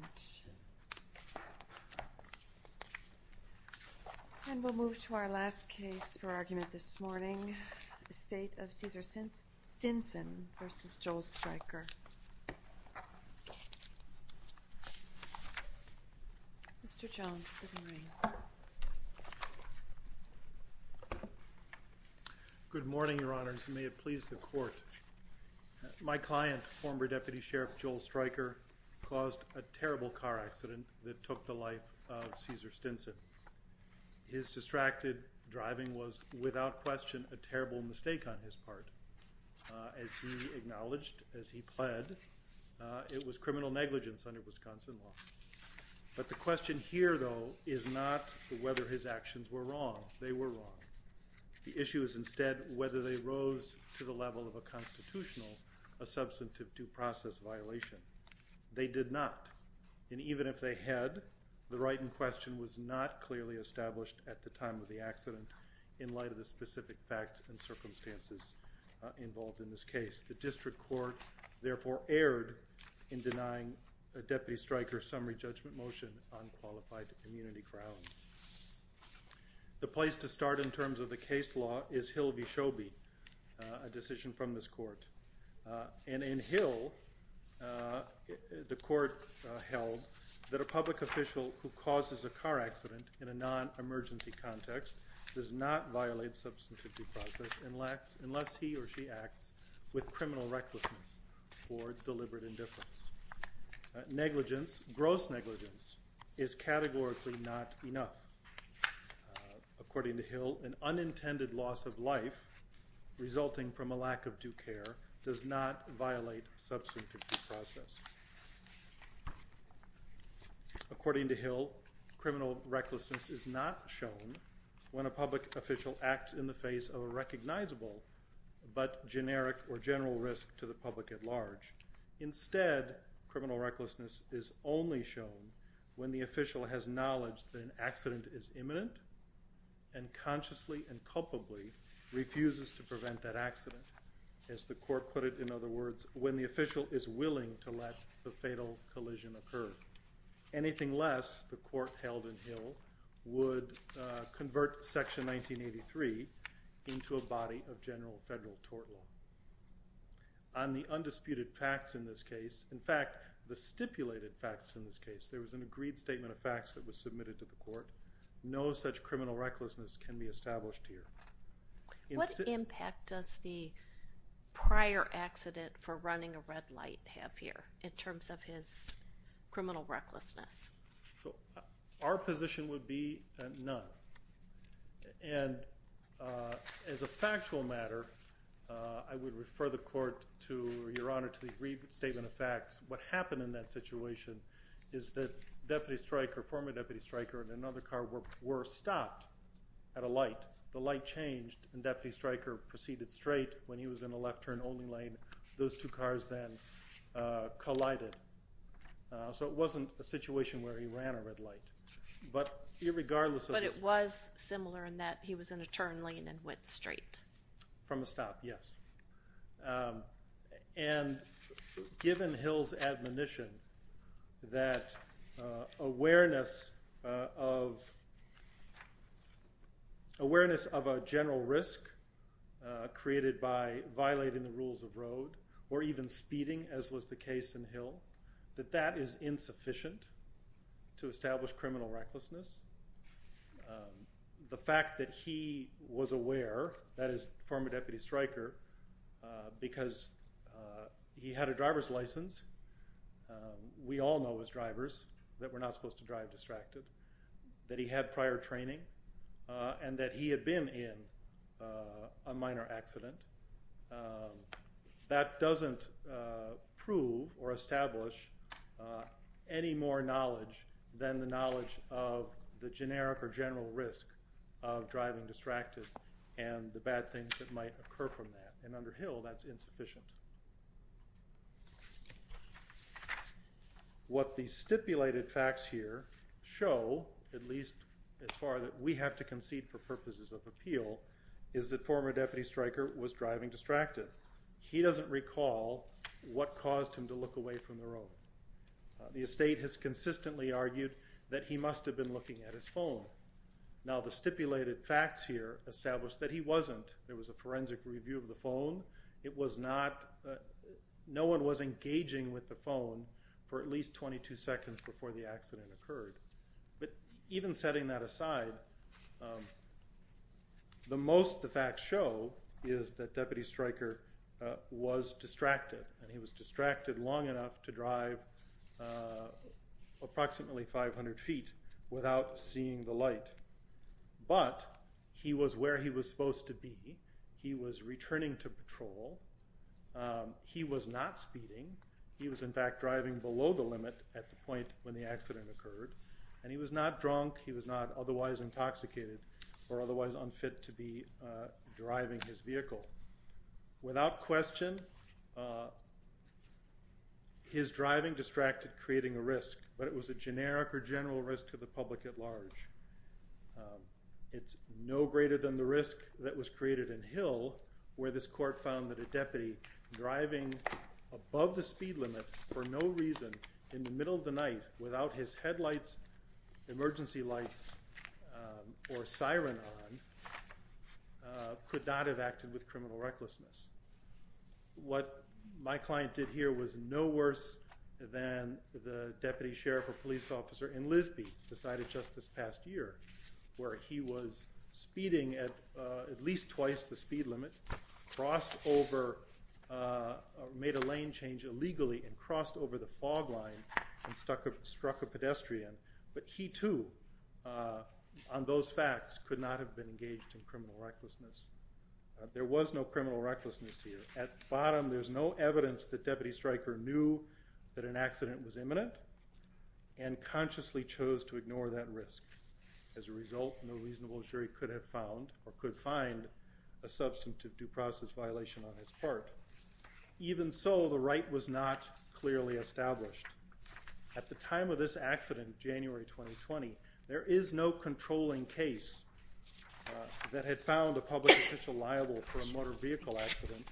Good morning, Your Honors, and may it please the Court, my client, former Deputy Sheriff Joel Streicher caused a terrible car accident that took the life of Ceaser Stinson. His distracted driving was without question a terrible mistake on his part. As he acknowledged as he pled, it was criminal negligence under Wisconsin law. But the question here though is not whether his actions were wrong. They were wrong. The issue is instead whether they did not. And even if they had, the right in question was not clearly established at the time of the accident in light of the specific facts and circumstances involved in this case. The District Court therefore erred in denying Deputy Streicher's summary judgment motion on qualified immunity grounds. The place to start in terms of the case law is Hill v. The Court held that a public official who causes a car accident in a non-emergency context does not violate substantive due process unless he or she acts with criminal recklessness or deliberate indifference. Negligence, gross negligence, is categorically not enough. According to Hill, an unintended loss of life resulting from a lack of due care does not violate substantive due process. According to Hill, criminal recklessness is not shown when a public official acts in the face of a recognizable but generic or general risk to the public at large. Instead, criminal recklessness is only shown when the official has knowledge that an accident is imminent and consciously and culpably refuses to prevent that accident. As the Court put it, in other words, when the official is willing to let the fatal collision occur. Anything less, the Court held in Hill, would convert Section 1983 into a body of general federal tort law. On the undisputed facts in this case, in fact the stipulated facts in this case, there was an agreed statement of criminal recklessness can be established here. What impact does the prior accident for running a red light have here in terms of his criminal recklessness? So our position would be none. And as a factual matter, I would refer the Court to, Your Honor, to the agreed statement of facts. What happened in that situation is that Deputy Stryker, former Deputy Stryker and another car were stopped at a light. The light changed and Deputy Stryker proceeded straight. When he was in a left turn only lane, those two cars then collided. So it wasn't a situation where he ran a red light. But irregardless of... But it was similar in that he was in a turn lane and went straight. From a stop, yes. And given Hill's admonition that awareness of a general risk created by violating the rules of road or even speeding, as was the case in Hill, that that is insufficient to establish criminal recklessness. The fact that he was aware, that is former Deputy Stryker, because he had a driver's license, we all know as drivers that we're not supposed to drive distracted, that he had prior training, and that he had been in a minor accident, that doesn't prove or establish any more knowledge than the knowledge of the generic or general risk of driving distracted and the bad things that might occur from that. And under Hill, that's insufficient. What the stipulated facts here show, at least as far as we have to concede for purposes of appeal, is that former Deputy Stryker was driving distracted. He doesn't recall what caused him to look away from the road. The estate has consistently argued that he must have been looking at his phone. Now, the stipulated facts here establish that he wasn't. There was a forensic review of the phone. It was not... No one was engaging with the phone for at least 22 seconds before the accident occurred. But even setting that aside, the most the facts show is that Deputy Stryker was distracted long enough to drive approximately 500 feet without seeing the light. But he was where he was supposed to be. He was returning to patrol. He was not speeding. He was, in fact, driving below the limit at the point when the accident occurred. And he was not drunk. He was not otherwise intoxicated or otherwise unfit to be His driving distracted creating a risk, but it was a generic or general risk to the public at large. It's no greater than the risk that was created in Hill where this court found that a deputy driving above the speed limit for no reason in the middle of the night without his headlights, emergency lights, or siren on, could not have acted with criminal recklessness. What my client did here was no worse than the deputy sheriff or police officer in Lisby decided just this past year where he was speeding at least twice the speed limit, crossed over, made a lane change illegally, and crossed over the fog line and struck a pedestrian. But he too, on those facts, could not have been engaged in criminal recklessness. There was no criminal recklessness here. At bottom, there's no evidence that Deputy Stryker knew that an accident was imminent and consciously chose to ignore that risk. As a result, no reasonable jury could have found or could find a substantive due process violation on his part. Even so, the right was not clearly established. At the time of this accident, January 2020, there is no controlling case that had found a public official liable for a motor vehicle accident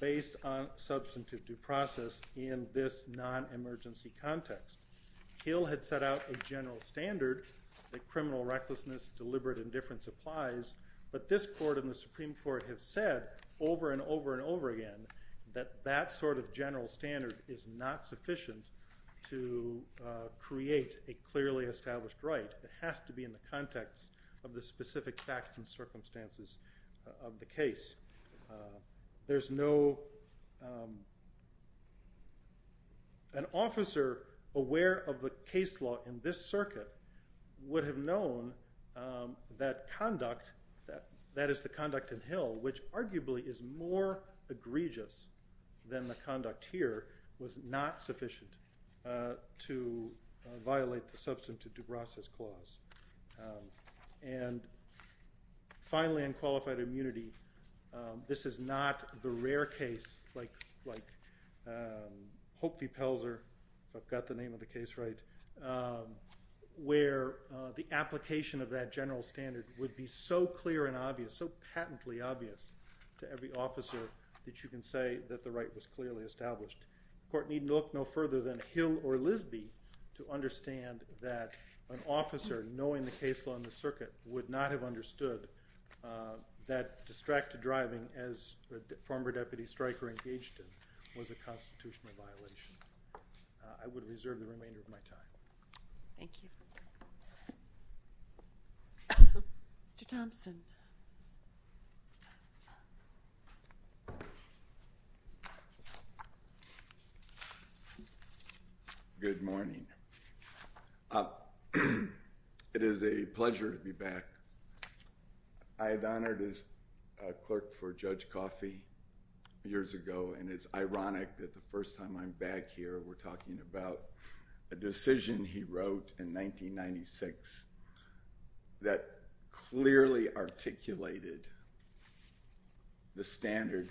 based on substantive due process in this non-emergency context. Hill had set out a general standard that criminal recklessness, deliberate indifference applies, but this court and the Supreme Court have said over and over and over again that that sort of general standard is not sufficient to create a clearly established right. It has to be in the context of the specific facts and circumstances of the case. There's no an officer aware of the case law in this circuit would have known that conduct, that is the conduct in Hill, which arguably is more egregious than the conduct here, was not sufficient to violate the substantive due process clause. Finally, in qualified immunity, this is not the rare case like Hope v. Pelzer, if I've got the name of the case right, where the application of that general standard would be so clear and obvious, so patently obvious to every officer that you can say that the right was clearly established. The court needn't look no further than Hill or Lisby to understand that an officer knowing the case law in the circuit would not have understood that distracted driving as the former deputy striker engaged in was a constitutional violation. I would reserve the remainder of my time. Thank you. Mr. Thompson. Good morning. It is a pleasure to be back. I had honored as a clerk for Judge Coffey years ago, and it's ironic that the first time I'm back here, we're talking about a decision he wrote in 1996 that clearly articulated the standard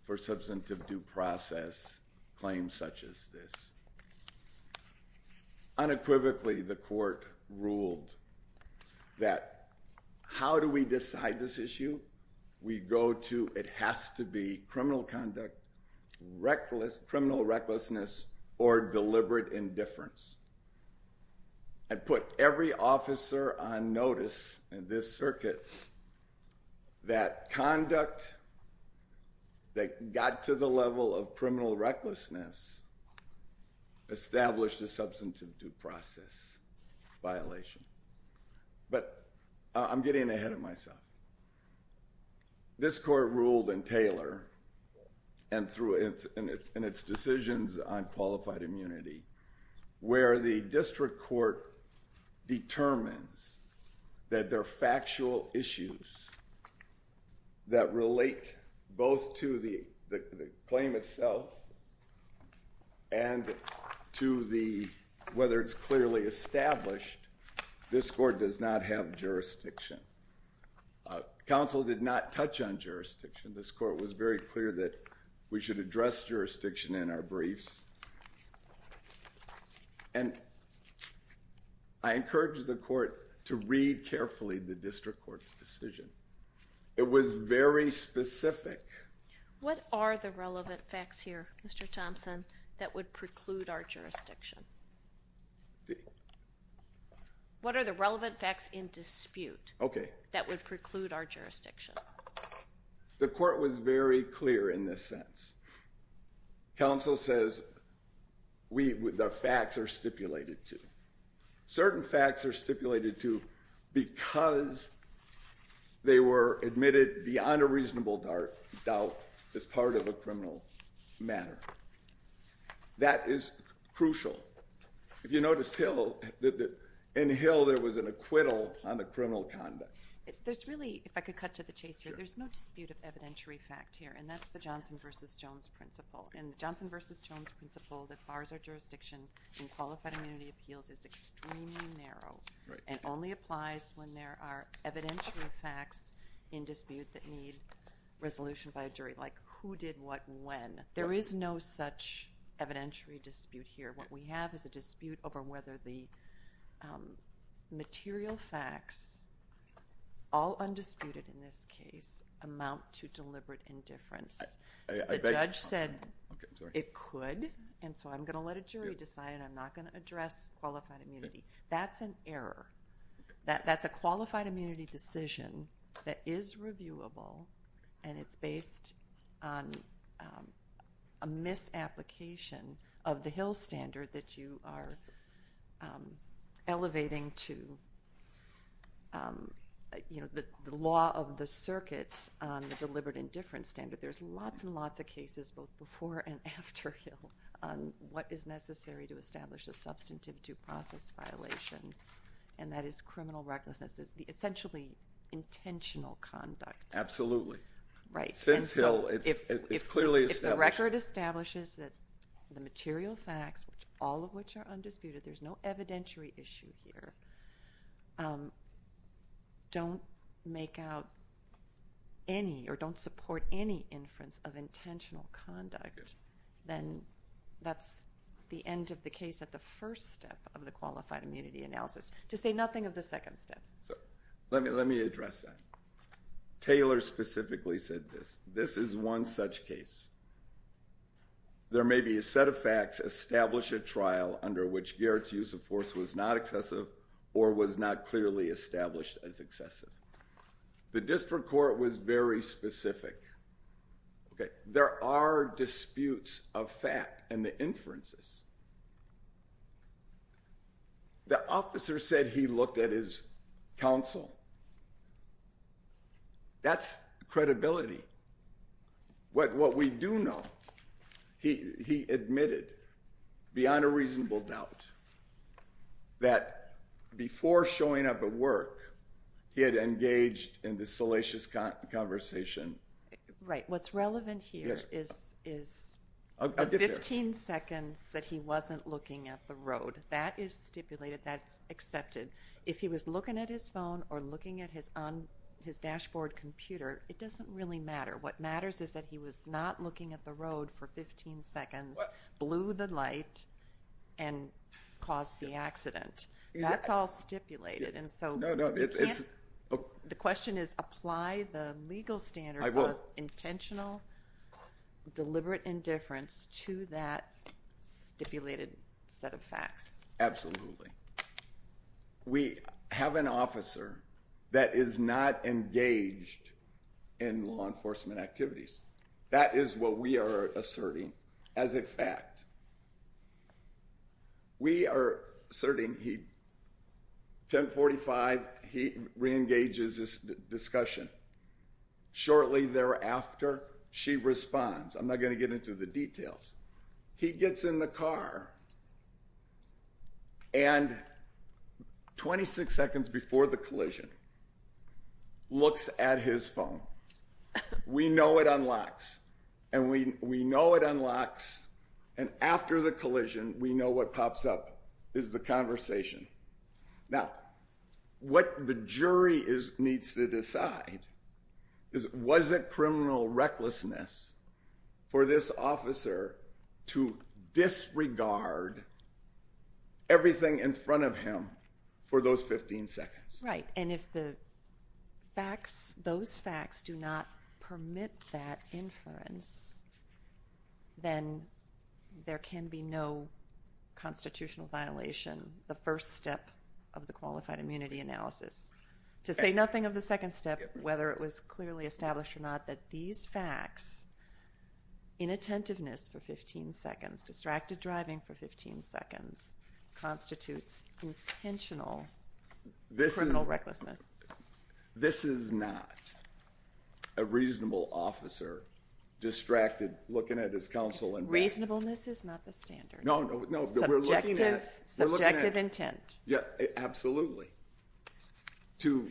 for substantive due process claims such as this. Unequivocally, the court ruled that how do we decide this issue? We go to, it has to be criminal conduct, reckless criminal recklessness or deliberate indifference. I put every officer on notice in this circuit that conduct that got to the level of criminal recklessness established a substantive due process violation. But I'm getting ahead of myself. This court ruled in Taylor and through in its decisions on qualified immunity, where the district court determines that they're factual issues that relate both to the claim itself and to the, whether it's clearly established, this court does not have jurisdiction. Counsel did not touch on jurisdiction. This court was very clear that we should address jurisdiction in our briefs. And I encourage the court to read carefully the district court's decision. It was very specific. What are the relevant facts here, Mr. Thompson, that would preclude our jurisdiction? What are the relevant facts in dispute that would preclude our jurisdiction? The court was very clear in this sense. Counsel says the facts are stipulated to. Certain facts are stipulated to because they were admitted beyond a reasonable doubt as part of a criminal matter. That is crucial. If you noticed Hill, in Hill there was an acquittal on the criminal conduct. There's really, if I could cut to the chase here, there's no dispute of evidentiary fact here, and that's the Johnson versus Jones principle. And the Johnson versus Jones principle that bars our jurisdiction in qualified immunity appeals is extremely narrow and only applies when there are evidentiary facts in dispute that need resolution by a jury, like who did what and when. There is no such evidentiary dispute here. What we have is a dispute over whether the material facts, all undisputed in this case, amount to deliberate indifference. The judge said it could, and so I'm going to let a jury decide. I'm not going to address qualified immunity. That's an error. That's a qualified immunity decision that is reviewable, and it's based on a misapplication of the Hill standard that you are elevating to the law of the circuit, the deliberate indifference standard. There's lots and lots of cases both before and after Hill on what is necessary to establish a substantive due process violation, and that is criminal recklessness, the essentially intentional conduct. Absolutely. Since Hill, it's clearly established. If the record establishes that the material facts, all of which are undisputed, there's no evidentiary issue here, and if you don't make out any or don't support any inference of intentional conduct, then that's the end of the case at the first step of the qualified immunity analysis. To say nothing of the second step. Let me address that. Taylor specifically said this. This is one such case. There may be a set of facts establish a trial under which Garrett's use of force was not excessive or was not clearly established as excessive. The district court was very specific. There are disputes of fact in the inferences. The officer said he looked at his counsel. That's credibility. What we do know, he admitted beyond a reasonable doubt that before showing up at work, he had engaged in this salacious conversation. Right. What's relevant here is the 15 seconds that he wasn't looking at the road. That is stipulated. That's accepted. If he was looking at his phone or looking at his dashboard computer, it doesn't really matter. What matters is that he was not looking at the road for 15 seconds, blew the light, and caused the accident. That's all stipulated. The question is apply the legal standard of intentional deliberate indifference to that stipulated set of facts. Absolutely. We have an officer that is not engaged in law enforcement activities. That is what we are asserting as a fact. We are asserting he 1045. He reengages this discussion. Shortly thereafter, she responds. I'm not going to get into the details. He gets in the it unlocks. We know it unlocks. After the collision, we know what pops up is the conversation. Now, what the jury needs to decide is was it criminal recklessness for this officer to disregard everything in front of him for those 15 seconds? Right. If those facts do not permit that inference, then there can be no constitutional violation, the first step of the qualified immunity analysis. To say nothing of the second step, whether it was clearly established or not, that these facts, inattentiveness for 15 seconds, distracted driving for 15 seconds, constitutes intentional criminal recklessness. This is not a reasonable officer distracted looking at his counsel. Reasonableness is not the standard. Subjective intent. Absolutely. To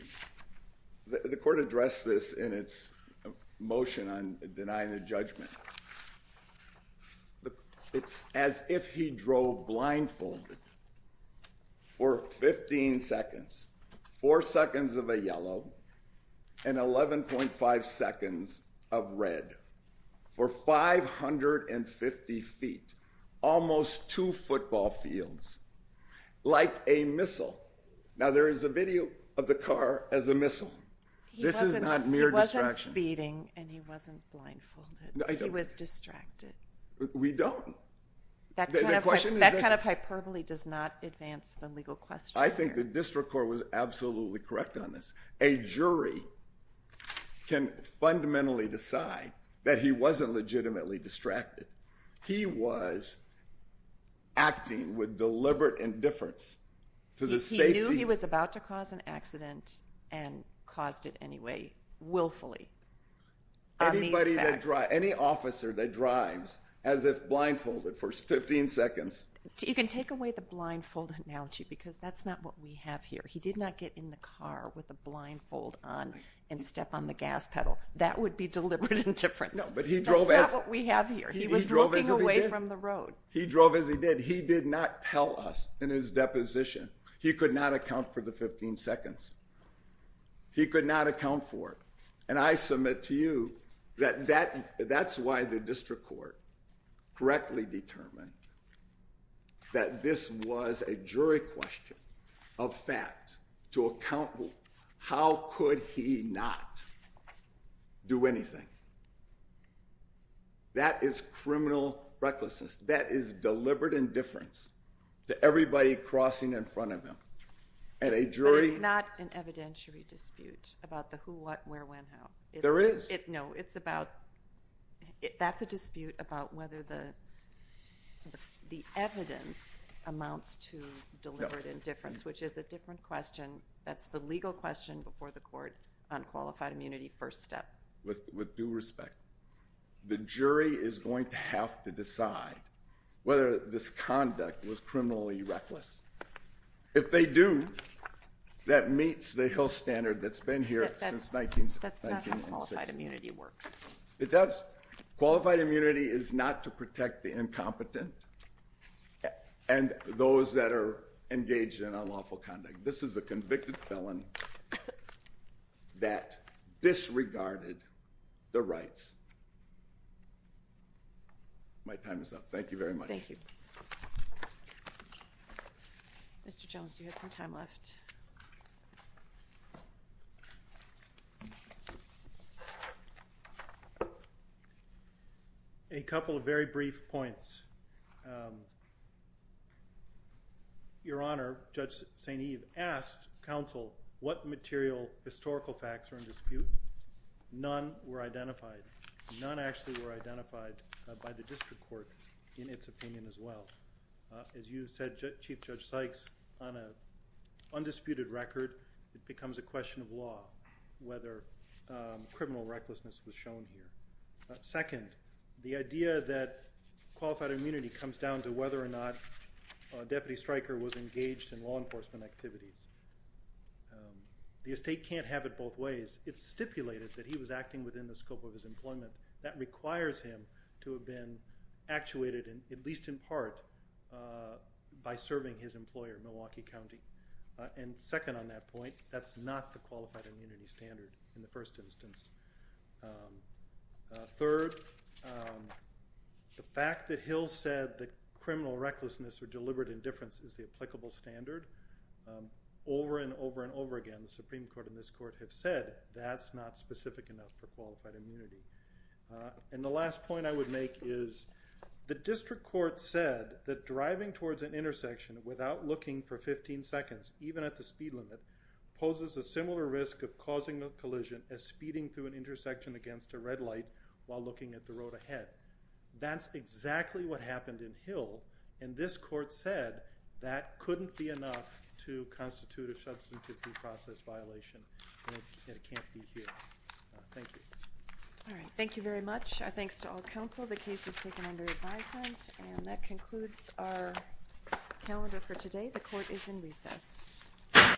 the court addressed this in its motion on denying the judgment. It's as if he drove blindfolded for 15 seconds, four seconds of a yellow and 11.5 seconds of red for 550 feet, almost two football fields, like a missile. Now there is a video of the car as a missile. This is not mere distraction. He wasn't speeding and he wasn't blindfolded. He was distracted. We don't. That kind of question, that kind of hyperbole does not advance the legal question. I think the district court was absolutely correct on this. A jury can fundamentally decide that he wasn't legitimately distracted. He was acting with deliberate indifference. He knew he was about to cause an accident and caused it anyway, willfully. Any officer that drives as if blindfolded for 15 seconds. You can take away the blindfold analogy because that's not what we have here. He did not get in the car with a blindfold on and step on the gas pedal. That would be deliberate indifference. That's not what we have here. He was looking away from the road. He drove as he did. He did not tell us in his deposition. He could not account for the 15 seconds. He could not account for it. And I submit to you that that's why the district court correctly determined that this was a jury question of fact to account. How could he not do anything? That is criminal recklessness. That is deliberate indifference to everybody crossing in front of him at a jury. It's not an evidentiary dispute about the who, what, where, when, how. There is. No, it's about, that's a dispute about whether the evidence amounts to deliberate indifference, which is a different question. That's the legal question before the court on qualified immunity first step. With due respect, the jury is going to have to decide whether this conduct was criminally reckless. If they do, that meets the Hill standard that's been here since 19th. That's not how qualified immunity works. It does. Qualified immunity is not to protect the incompetent and those that are engaged in unlawful conduct. This is a convicted felon that disregarded the rights. My time is up. Thank you very much. Thank you. Mr. Jones, you had some time left. A couple of very brief points. Your Honor, Judge St. Eve asked counsel what material historical facts are in dispute. None were identified. None actually were identified by the district court in its opinion as well. As you said, Chief Judge Sykes, on a undisputed record, it becomes a question of law whether criminal recklessness was shown here. Second, the idea that qualified immunity comes down to whether or not a deputy striker was engaged in law enforcement activities. The estate can't have it both ways. It's stipulated that he was acting within the least in part by serving his employer, Milwaukee County. Second on that point, that's not the qualified immunity standard in the first instance. Third, the fact that Hill said that criminal recklessness or deliberate indifference is the applicable standard. Over and over and over again, the Supreme Court and this court have said that's not specific enough for qualified immunity. And the last point I would make is the district court said that driving towards an intersection without looking for 15 seconds, even at the speed limit, poses a similar risk of causing a collision as speeding through an intersection against a red light while looking at the road ahead. That's exactly what happened in Hill and this court said that couldn't be enough to constitute a substantive due process violation and it can't be here. Thank you. All right. Thank you very much. Our thanks to all counsel. The case is taken under advisement and that concludes our calendar for today. The court is in recess.